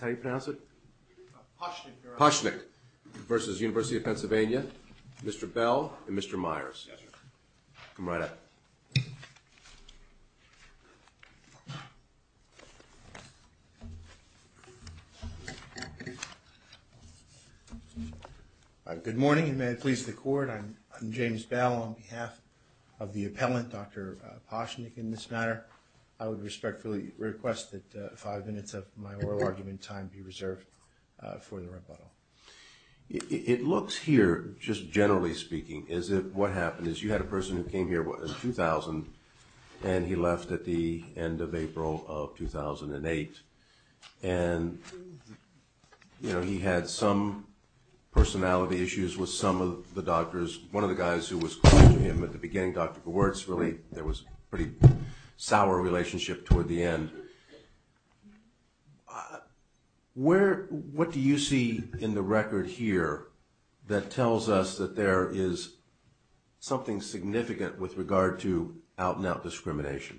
How do you pronounce it? Ptasznik v. University of Pennsylvania. Mr. Bell and Mr. Myers. Yes, sir. Come right up. Good morning and may it please the Court. I'm James Bell on behalf of the appellant, Dr. Ptasznik, in this matter. I would respectfully request that five minutes of my oral argument time be reserved for the rebuttal. It looks here, just generally speaking, as if what happened is you had a person who came here in 2000 and he left at the end of April of 2008. And, you know, he had some personality issues with some of the doctors. One of the guys who was close to him at the beginning, Dr. Gewertz, really, there was a pretty sour relationship toward the end. What do you see in the record here that tells us that there is something significant with regard to out-and-out discrimination?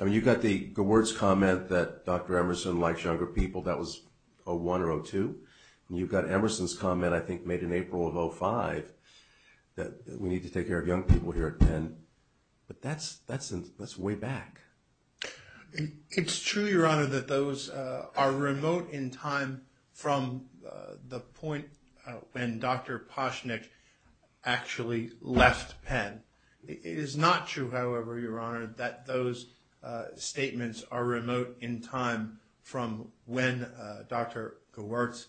I mean, you've got the Gewertz comment that Dr. Emerson likes younger people. That was 2001 or 2002. And you've got Emerson's comment, I think, made in April of 2005 that we need to take care of young people here at Penn. But that's way back. It's true, Your Honor, that those are remote in time from the point when Dr. Ptasznik actually left Penn. It is not true, however, Your Honor, that those statements are remote in time from when Dr. Gewertz,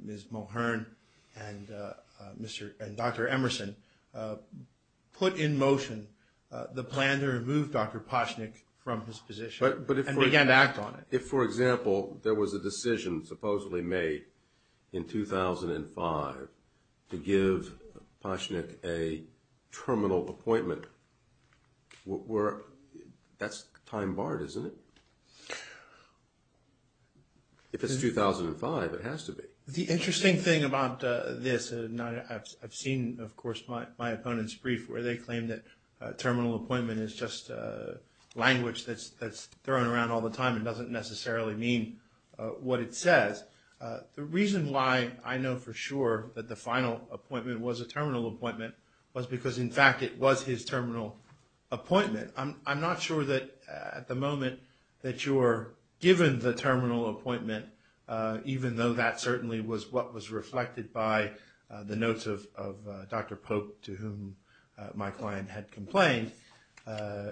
Ms. Mulhern, and Dr. Emerson put in motion the plan to remove Dr. Ptasznik from his position and began to act on it. If, for example, there was a decision supposedly made in 2005 to give Ptasznik a terminal appointment, that's time-barred, isn't it? If it's 2005, it has to be. The interesting thing about this, and I've seen, of course, my opponents' brief where they claim that terminal appointment is just language that's thrown around all the time and doesn't necessarily mean what it says. The reason why I know for sure that the final appointment was a terminal appointment was because, in fact, it was his terminal appointment. I'm not sure that, at the moment, that you're given the terminal appointment, even though that certainly was what was reflected by the notes of Dr. Pope, to whom my client had complained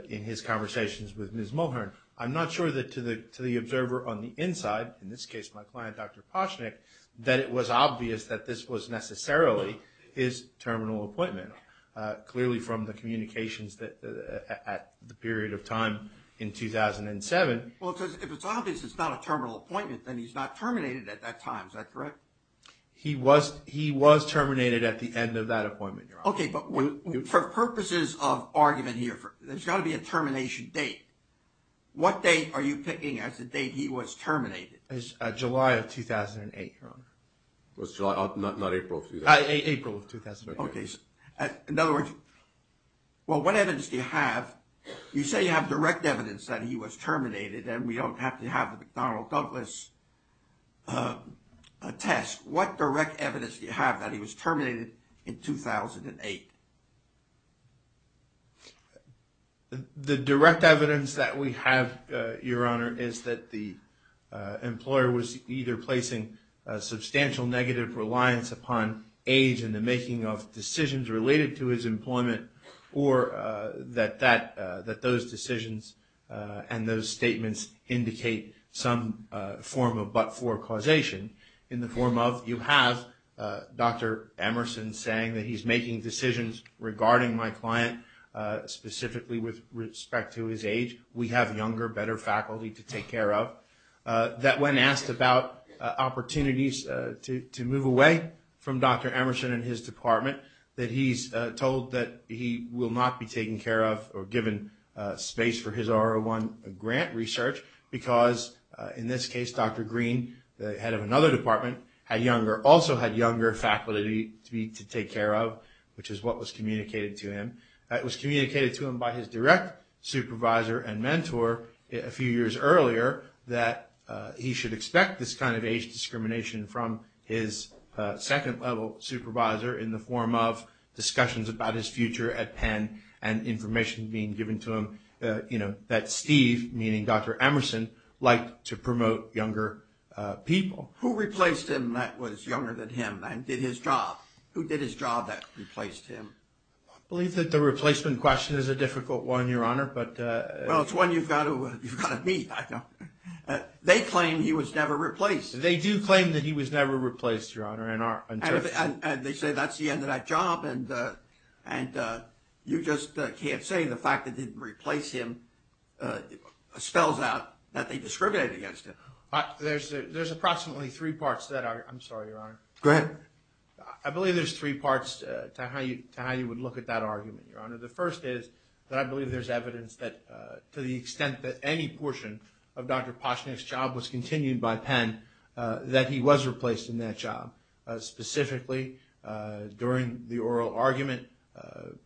in his conversations with Ms. Mulhern. I'm not sure that, to the observer on the inside, in this case, my client, Dr. Ptasznik, that it was obvious that this was necessarily his terminal appointment, clearly from the communications at the period of time in 2007. Well, if it's obvious it's not a terminal appointment, then he's not terminated at that time. Is that correct? He was terminated at the end of that appointment, Your Honor. Okay, but for purposes of argument here, there's got to be a termination date. What date are you picking as the date he was terminated? July of 2008, Your Honor. Not April of 2008. April of 2008. Okay. In other words, well, what evidence do you have? You say you have direct evidence that he was terminated, and we don't have to have the McDonnell-Douglas test. What direct evidence do you have that he was terminated in 2008? The direct evidence that we have, Your Honor, is that the employer was either placing a substantial negative reliance upon age in the making of decisions related to his employment, or that those decisions and those statements indicate some form of but-for causation in the form of, you have Dr. Emerson saying that he's making decisions about his age. He's making decisions regarding my client, specifically with respect to his age. We have younger, better faculty to take care of. That when asked about opportunities to move away from Dr. Emerson and his department, that he's told that he will not be taken care of or given space for his R01 grant research because, in this case, Dr. Green, the head of another department, also had younger faculty to take care of, which is what was communicated to him. It was communicated to him by his direct supervisor and mentor a few years earlier that he should expect this kind of age discrimination from his second-level supervisor in the form of discussions about his future at Penn and information being given to him that Steve, meaning Dr. Emerson, liked to promote younger people. Who replaced him that was younger than him and did his job? Who did his job that replaced him? I believe that the replacement question is a difficult one, Your Honor. Well, it's one you've got to meet. They claim he was never replaced. They do claim that he was never replaced, Your Honor. And they say that's the end of that job and you just can't say the fact that they didn't replace him spells out that they discriminated against him. There's approximately three parts to that. I'm sorry, Your Honor. Go ahead. I believe there's three parts to how you would look at that argument, Your Honor. The first is that I believe there's evidence that to the extent that any portion of Dr. Poshnick's job was continued by Penn, that he was replaced in that job. Specifically, during the oral argument,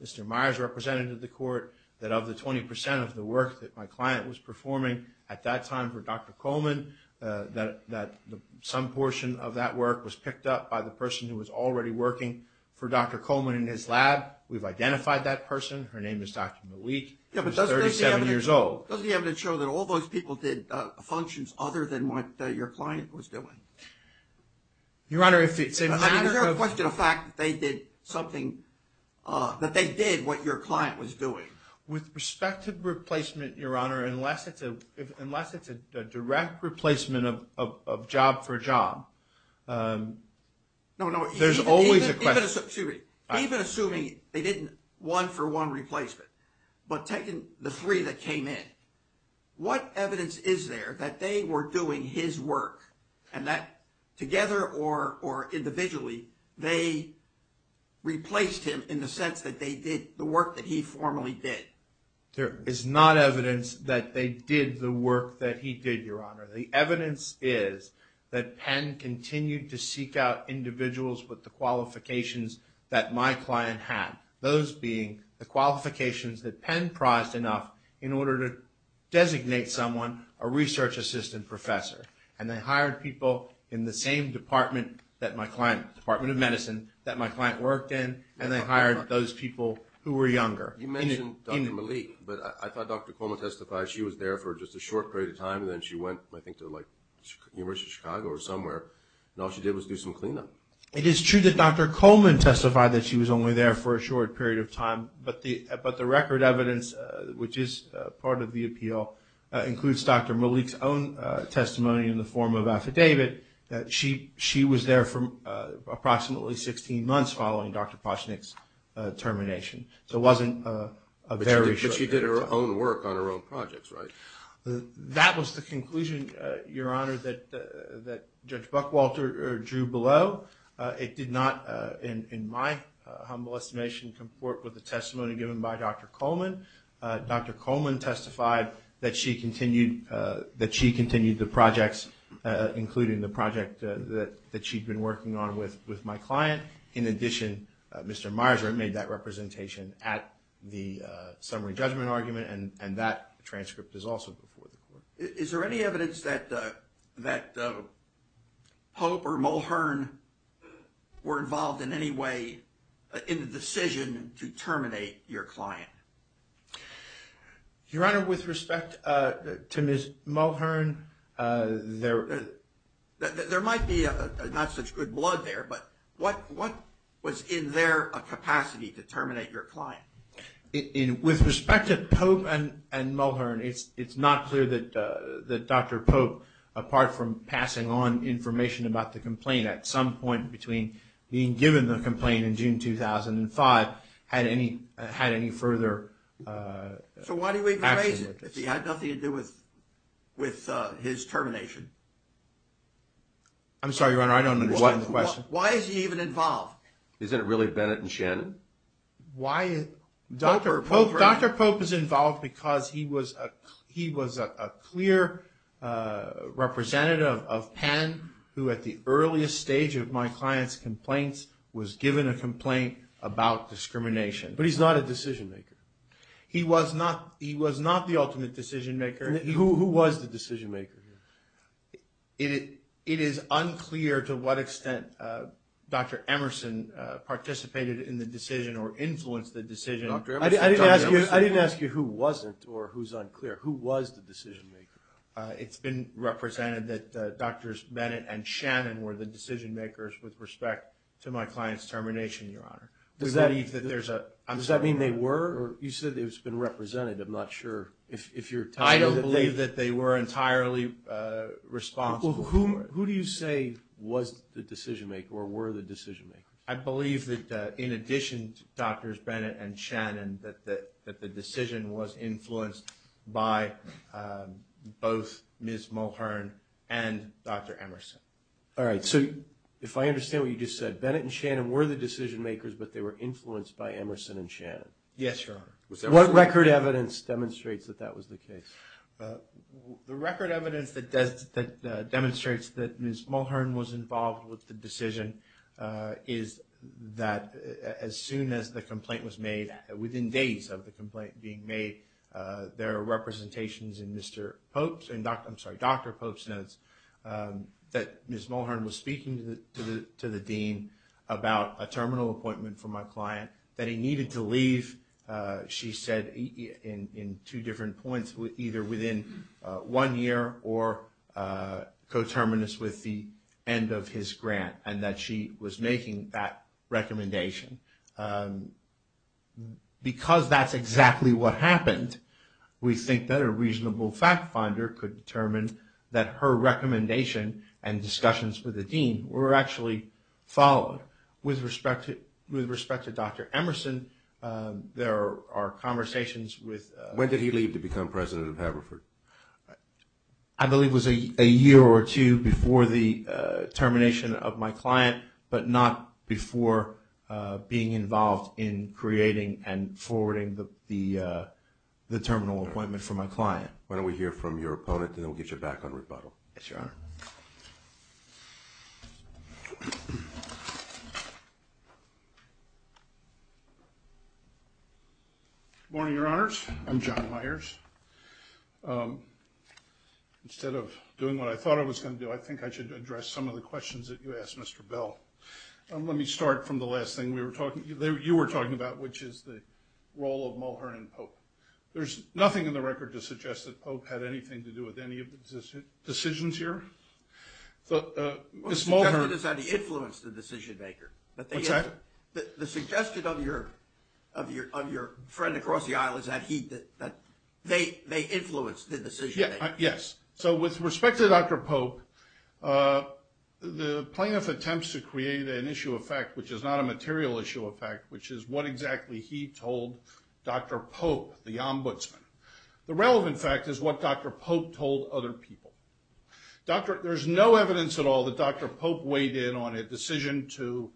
Mr. Myers represented to the court that of the 20% of the work that my client was performing at that time for Dr. Coleman, that some portion of that work was picked up by the person who was already working for Dr. Coleman in his lab. We've identified that person. Her name is Dr. Malik. She's 37 years old. Yeah, but doesn't the evidence show that all those people did functions other than what your client was doing? Your Honor, if it's… Is there a question of fact that they did something, that they did what your client was doing? With respect to replacement, Your Honor, unless it's a direct replacement of job for job, there's always a question. Even assuming they didn't one for one replacement, but taking the three that came in, what evidence is there that they were doing his work and that together or individually, they replaced him in the sense that they did the work that he formally did? There is not evidence that they did the work that he did, Your Honor. The evidence is that Penn continued to seek out individuals with the qualifications that my client had, those being the qualifications that Penn prized enough in order to designate someone a research assistant professor. And they hired people in the same department that my client, Department of Medicine, that my client worked in, and they hired those people who were younger. You mentioned Dr. Malik, but I thought Dr. Coleman testified she was there for just a short period of time, and then she went, I think, to like University of Chicago or somewhere, and all she did was do some cleanup. It is true that Dr. Coleman testified that she was only there for a short period of time, but the record evidence, which is part of the appeal, includes Dr. Malik's own testimony in the form of affidavit that she was there for approximately 16 months following Dr. Pochnick's termination. So it wasn't a very short period of time. But she did her own work on her own projects, right? That was the conclusion, Your Honor, that Judge Buckwalter drew below. It did not, in my humble estimation, comport with the testimony given by Dr. Coleman. Dr. Coleman testified that she continued the projects, including the project that she'd been working on with my client. In addition, Mr. Myers made that representation at the summary judgment argument, and that transcript is also before the court. Is there any evidence that Pope or Mulhern were involved in any way in the decision to terminate your client? Your Honor, with respect to Ms. Mulhern, there might be not such good blood there, but what was in their capacity to terminate your client? With respect to Pope and Mulhern, it's not clear that Dr. Pope, apart from passing on information about the complaint at some point between being given the complaint in June 2005, had any further action with this. So why do we raise it if he had nothing to do with his termination? I'm sorry, Your Honor, I don't understand the question. Why is he even involved? Isn't it really Bennett and Shannon? Dr. Pope is involved because he was a clear representative of Penn, who at the earliest stage of my client's complaints was given a complaint about discrimination. But he's not a decision maker. He was not the ultimate decision maker. Who was the decision maker? It is unclear to what extent Dr. Emerson participated in the decision or influenced the decision. I didn't ask you who wasn't or who's unclear. Who was the decision maker? It's been represented that Drs. Bennett and Shannon were the decision makers with respect to my client's termination, Your Honor. Does that mean they were? You said it's been represented. I'm not sure if you're telling me that they were. They were entirely responsible. Who do you say was the decision maker or were the decision makers? I believe that in addition to Drs. Bennett and Shannon, that the decision was influenced by both Ms. Mulhern and Dr. Emerson. All right. So if I understand what you just said, Bennett and Shannon were the decision makers, but they were influenced by Emerson and Shannon. Yes, Your Honor. What record evidence demonstrates that that was the case? The record evidence that demonstrates that Ms. Mulhern was involved with the decision is that as soon as the complaint was made, within days of the complaint being made, there are representations in Dr. Pope's notes that Ms. Mulhern was speaking to the dean about a terminal appointment for my client that he needed to leave, she said, in two different points, either within one year or coterminous with the end of his grant, and that she was making that recommendation. Because that's exactly what happened, we think that a reasonable fact finder could determine that her recommendation and discussions with the dean were actually followed. With respect to Dr. Emerson, there are conversations with... When did he leave to become president of Haverford? I believe it was a year or two before the termination of my client, but not before being involved in creating and forwarding the terminal appointment for my client. Why don't we hear from your opponent, and then we'll get you back on rebuttal. Yes, Your Honor. Good morning, Your Honors. I'm John Myers. Instead of doing what I thought I was going to do, I think I should address some of the questions that you asked, Mr. Bell. Let me start from the last thing you were talking about, which is the role of Mulhern and Pope. There's nothing in the record to suggest that Pope had anything to do with any of the decisions here. The suggestion is that he influenced the decision-maker. What's that? The suggestion of your friend across the aisle is that they influenced the decision-maker. Yes. So with respect to Dr. Pope, the plaintiff attempts to create an issue of fact which is not a material issue of fact, which is what exactly he told Dr. Pope, the ombudsman. The relevant fact is what Dr. Pope told other people. There's no evidence at all that Dr. Pope weighed in on a decision to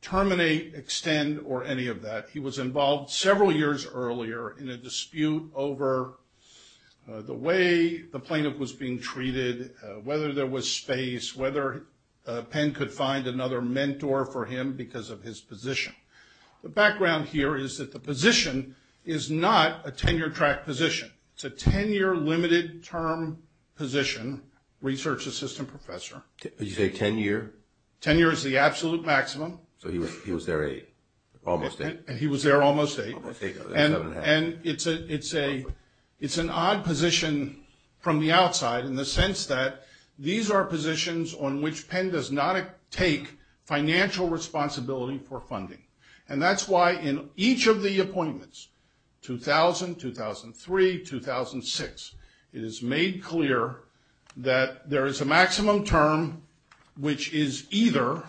terminate, extend, or any of that. He was involved several years earlier in a dispute over the way the plaintiff was being treated, whether there was space, whether Penn could find another mentor for him because of his position. The background here is that the position is not a tenure-track position. It's a 10-year limited-term position, research assistant professor. Did you say 10-year? Tenure is the absolute maximum. So he was there eight, almost eight. And he was there almost eight. And it's an odd position from the outside in the sense that these are positions on which Penn does not take financial responsibility for funding. And that's why in each of the appointments, 2000, 2003, 2006, it is made clear that there is a maximum term which is either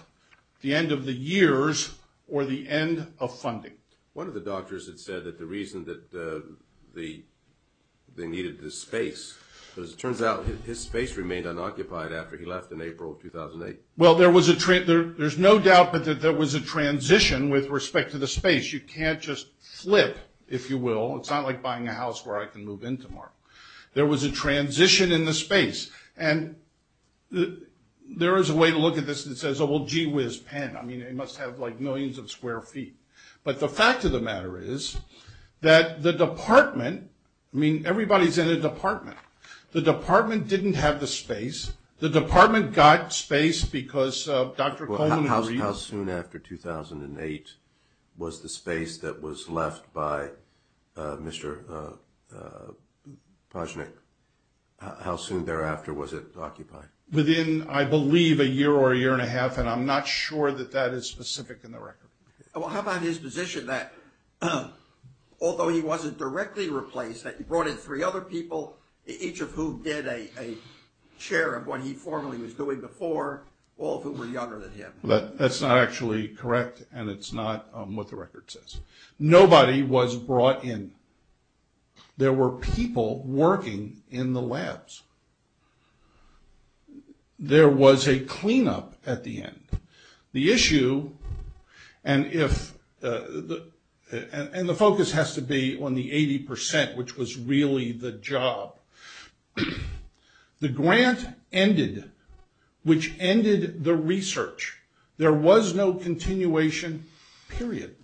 the end of the years or the end of funding. One of the doctors had said that the reason that they needed this space, because it turns out his space remained unoccupied after he left in April of 2008. Well, there's no doubt that there was a transition with respect to the space. You can't just flip, if you will. It's not like buying a house where I can move into more. There was a transition in the space. And there is a way to look at this that says, oh, well, gee whiz, Penn. I mean, he must have like millions of square feet. But the fact of the matter is that the department, I mean, everybody's in a department. The department didn't have the space. The department got space because Dr. Coleman agreed. Well, how soon after 2008 was the space that was left by Mr. Pojnik? How soon thereafter was it occupied? Within, I believe, a year or a year and a half. And I'm not sure that that is specific in the record. Well, how about his position that although he wasn't directly replaced, that he brought in three other people, each of whom did a share of what he formerly was doing before, all of whom were younger than him? That's not actually correct, and it's not what the record says. Nobody was brought in. There were people working in the labs. There was a cleanup at the end. The issue, and the focus has to be on the 80%, which was really the job. The grant ended, which ended the research. There was no continuation, period.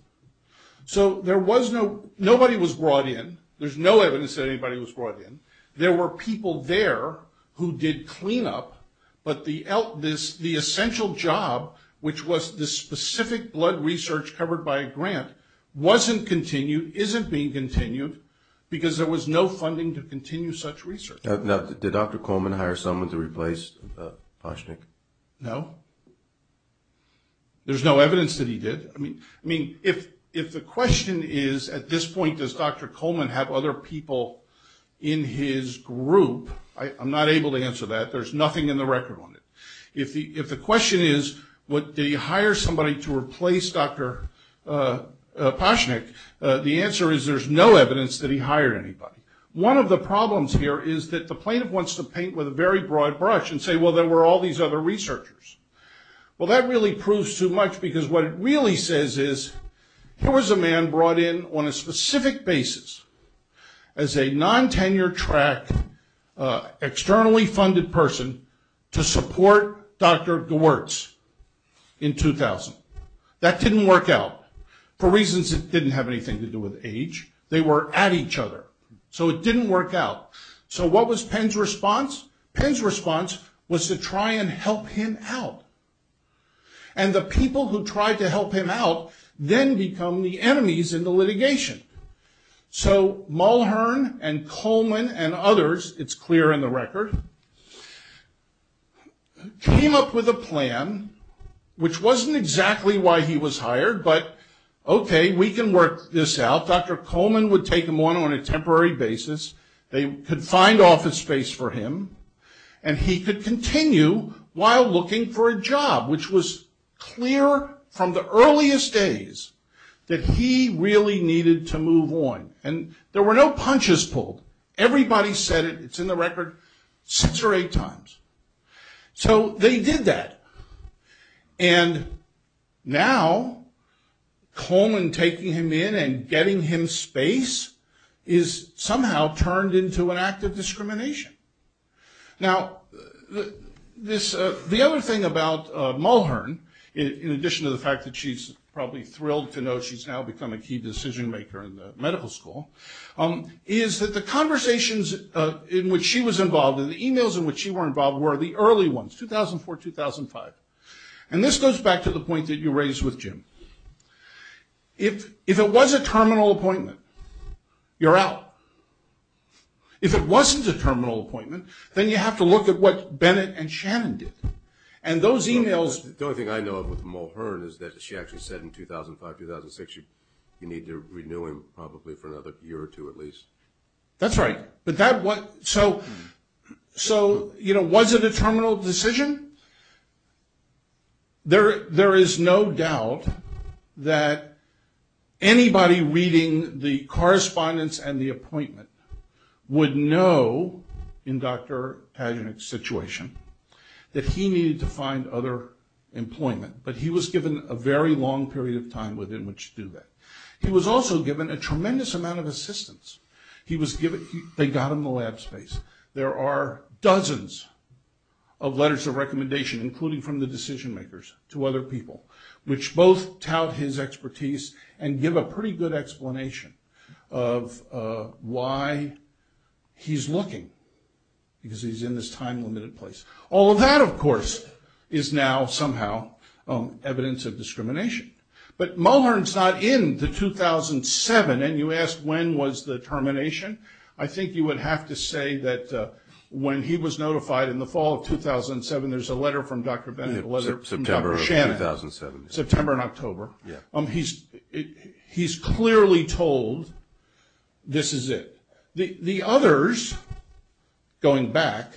So there was no, nobody was brought in. There's no evidence that anybody was brought in. There were people there who did cleanup. But the essential job, which was the specific blood research covered by a grant, wasn't continued, isn't being continued, because there was no funding to continue such research. Now, did Dr. Coleman hire someone to replace Pojnik? No. There's no evidence that he did. I mean, if the question is, at this point, does Dr. Coleman have other people in his group, I'm not able to answer that. There's nothing in the record on it. If the question is, did he hire somebody to replace Dr. Pojnik, the answer is there's no evidence that he hired anybody. One of the problems here is that the plaintiff wants to paint with a very broad brush and say, well, there were all these other researchers. Well, that really proves too much, because what it really says is, here was a man brought in on a specific basis as a non-tenure track externally funded person to support Dr. Gewertz in 2000. That didn't work out for reasons that didn't have anything to do with age. They were at each other. So it didn't work out. So what was Penn's response? Penn's response was to try and help him out. And the people who tried to help him out then become the enemies in the litigation. So Mulhern and Coleman and others, it's clear in the record, came up with a plan, which wasn't exactly why he was hired, but, okay, we can work this out. Dr. Coleman would take him on on a temporary basis. They could find office space for him. And he could continue while looking for a job, which was clear from the earliest days that he really needed to move on. And there were no punches pulled. Everybody said it, it's in the record, six or eight times. So they did that. And now Coleman taking him in and getting him space is somehow turned into an act of discrimination. Now, the other thing about Mulhern, in addition to the fact that she's probably thrilled to know she's now become a key decision maker in the medical school, is that the conversations in which she was involved and the e-mails in which she was involved were the early ones, 2004, 2005. And this goes back to the point that you raised with Jim. If it was a terminal appointment, you're out. If it wasn't a terminal appointment, then you have to look at what Bennett and Shannon did. And those e-mails. The only thing I know of with Mulhern is that she actually said in 2005, 2006, you need to renew him probably for another year or two at least. That's right. So, you know, was it a terminal decision? There is no doubt that anybody reading the correspondence and the appointment would know, in Dr. Pagenik's situation, that he needed to find other employment. But he was given a very long period of time within which to do that. He was also given a tremendous amount of assistance. They got him the lab space. There are dozens of letters of recommendation, including from the decision makers, to other people, which both tout his expertise and give a pretty good explanation of why he's looking, because he's in this time-limited place. All of that, of course, is now somehow evidence of discrimination. But Mulhern's not in the 2007, and you asked when was the termination. I think you would have to say that when he was notified in the fall of 2007, there's a letter from Dr. Bennett, a letter from Dr. Shannon. September of 2007. September and October. Yeah. He's clearly told this is it. The others, going back,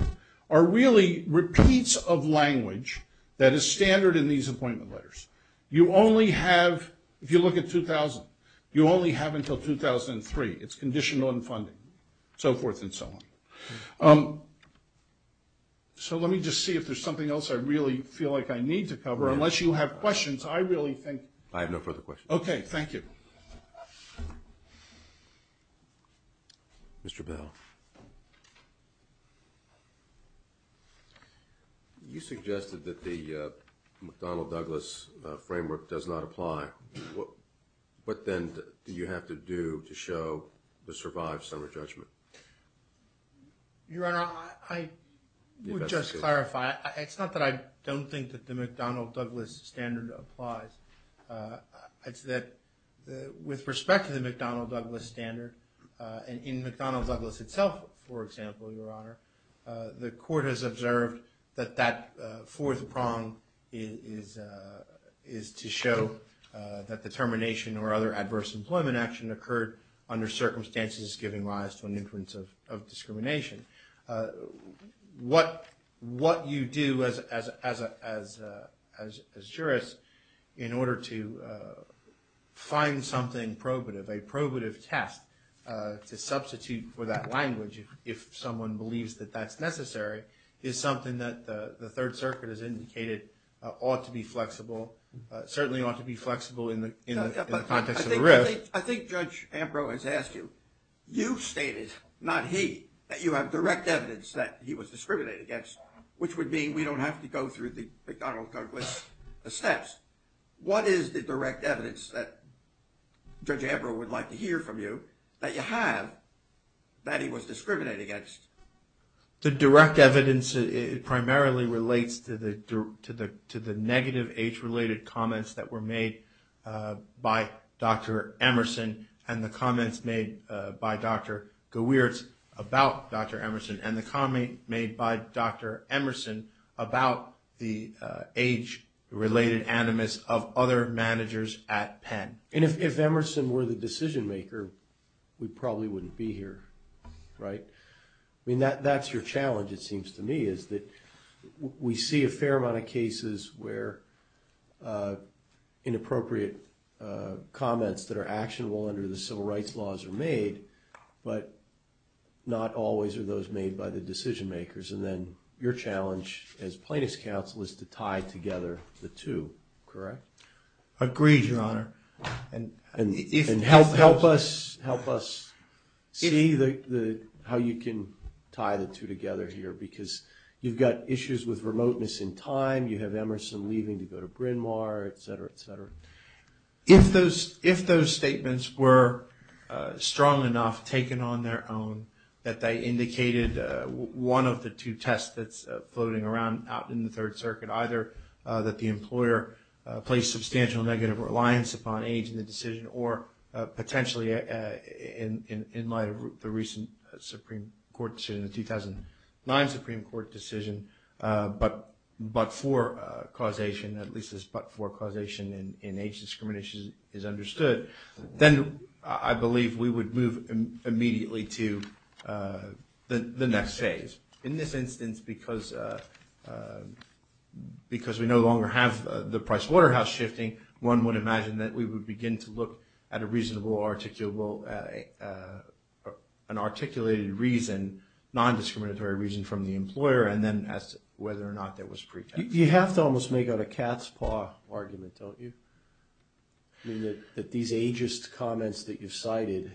are really repeats of language that is standard in these appointment letters. You only have, if you look at 2000, you only have until 2003. It's conditioned on funding, so forth and so on. So let me just see if there's something else I really feel like I need to cover. Unless you have questions, I really think. I have no further questions. Okay. Thank you. Mr. Bell. You suggested that the McDonnell-Douglas framework does not apply. What then do you have to do to show the survived summary judgment? Your Honor, I would just clarify. It's not that I don't think that the McDonnell-Douglas standard applies. It's that with respect to the McDonnell-Douglas standard, and in McDonnell-Douglas itself, for example, Your Honor, the court has observed that that fourth prong is to show that the termination or other adverse employment action occurred under circumstances giving rise to an influence of discrimination. What you do as a jurist in order to find something probative, a probative test to substitute for that language if someone believes that that's necessary, is something that the Third Circuit has indicated ought to be flexible, certainly ought to be flexible in the context of the rift. I think Judge Ambro has asked you. You stated, not he, that you have direct evidence that he was discriminated against, which would mean we don't have to go through the McDonnell-Douglas steps. What is the direct evidence that Judge Ambro would like to hear from you that you have that he was discriminated against? The direct evidence primarily relates to the negative age-related comments that were made by Dr. Emerson and the comments made by Dr. Gewirtz about Dr. Emerson and the comment made by Dr. Emerson about the age-related animus of other managers at Penn. And if Emerson were the decision-maker, we probably wouldn't be here, right? I mean, that's your challenge, it seems to me, is that we see a fair amount of cases where inappropriate comments that are actionable under the civil rights laws are made, but not always are those made by the decision-makers. And then your challenge as plaintiff's counsel is to tie together the two, correct? Agreed, Your Honor. And help us see how you can tie the two together here, because you've got issues with remoteness in time, you have Emerson leaving to go to Bryn Mawr, et cetera, et cetera. If those statements were strong enough, taken on their own, that they indicated one of the two tests that's floating around out in the Third Circuit, either that the employer placed substantial negative reliance upon age in the decision or potentially, in light of the recent Supreme Court decision, the 2009 Supreme Court decision, but for causation, at least as but for causation in age discrimination is understood, then I believe we would move immediately to the next phase. In this instance, because we no longer have the Pricewaterhouse shifting, one would imagine that we would begin to look at a reasonable articulable, an articulated reason, non-discriminatory reason from the employer, and then ask whether or not there was pretext. You have to almost make out a cat's paw argument, don't you? I mean, that these ageist comments that you've cited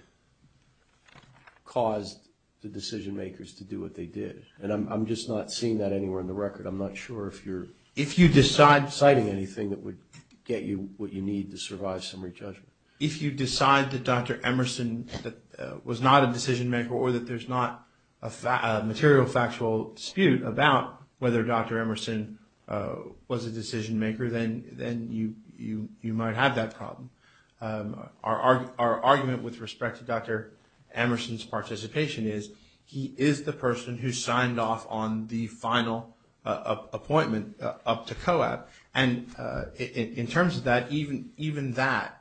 caused the decision-makers to do what they did. And I'm just not seeing that anywhere in the record. I'm not sure if you're... what you need to survive summary judgment. If you decide that Dr. Emerson was not a decision-maker or that there's not a material factual dispute about whether Dr. Emerson was a decision-maker, then you might have that problem. Our argument with respect to Dr. Emerson's participation is he is the person who signed off on the final appointment up to COAP, and in terms of that, even that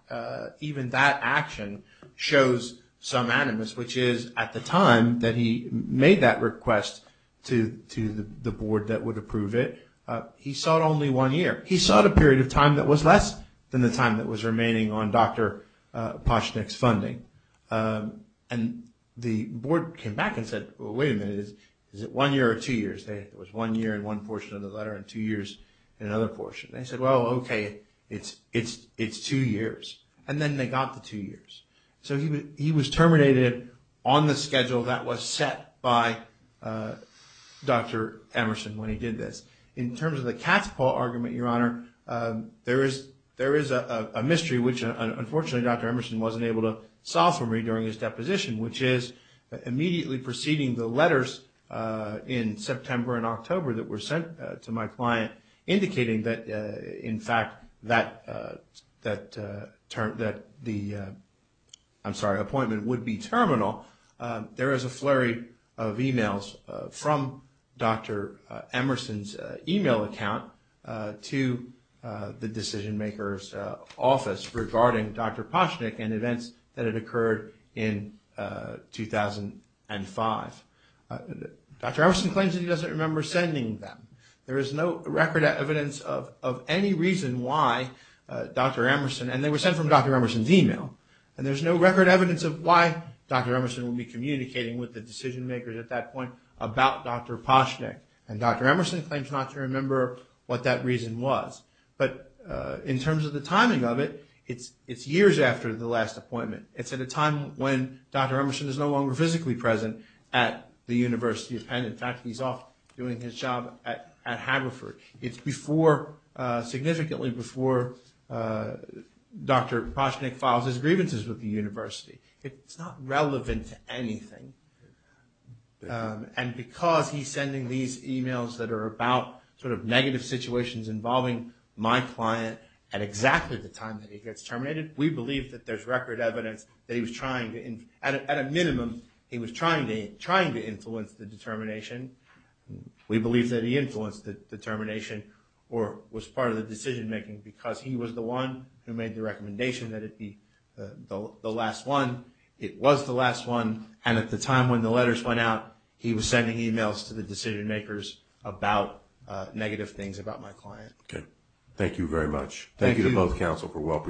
action shows some animus, which is at the time that he made that request to the board that would approve it, he sought only one year. He sought a period of time that was less than the time that was remaining on Dr. Poshnick's funding. And the board came back and said, well, wait a minute. Is it one year or two years? It was one year in one portion of the letter and two years in another portion. They said, well, okay, it's two years. And then they got the two years. So he was terminated on the schedule that was set by Dr. Emerson when he did this. In terms of the cat's paw argument, Your Honor, there is a mystery which, unfortunately, Dr. Emerson wasn't able to solve for me during his deposition, which is immediately preceding the letters in September and October that were sent to my client, indicating that, in fact, that the appointment would be terminal. There is a flurry of e-mails from Dr. Emerson's e-mail account to the decision-maker's office regarding Dr. Poshnick and events that had occurred in 2005. Dr. Emerson claims that he doesn't remember sending them. There is no record evidence of any reason why Dr. Emerson, and they were sent from Dr. Emerson's e-mail, and there's no record evidence of why Dr. Emerson would be communicating with the decision-makers at that point about Dr. Poshnick. And Dr. Emerson claims not to remember what that reason was. But in terms of the timing of it, it's years after the last appointment. It's at a time when Dr. Emerson is no longer physically present at the University of Penn. In fact, he's off doing his job at Haverford. It's significantly before Dr. Poshnick files his grievances with the University. It's not relevant to anything. And because he's sending these e-mails that are about sort of negative situations involving my client at exactly the time that he gets terminated, we believe that there's record evidence that he was trying to, at a minimum, he was trying to influence the determination. We believe that he influenced the determination or was part of the decision-making because he was the one who made the recommendation that it be the last one. It was the last one, and at the time when the letters went out, he was sending e-mails to the decision-makers about negative things about my client. Okay. Thank you very much. Thank you. Thank you to both counsel for well-preparedness.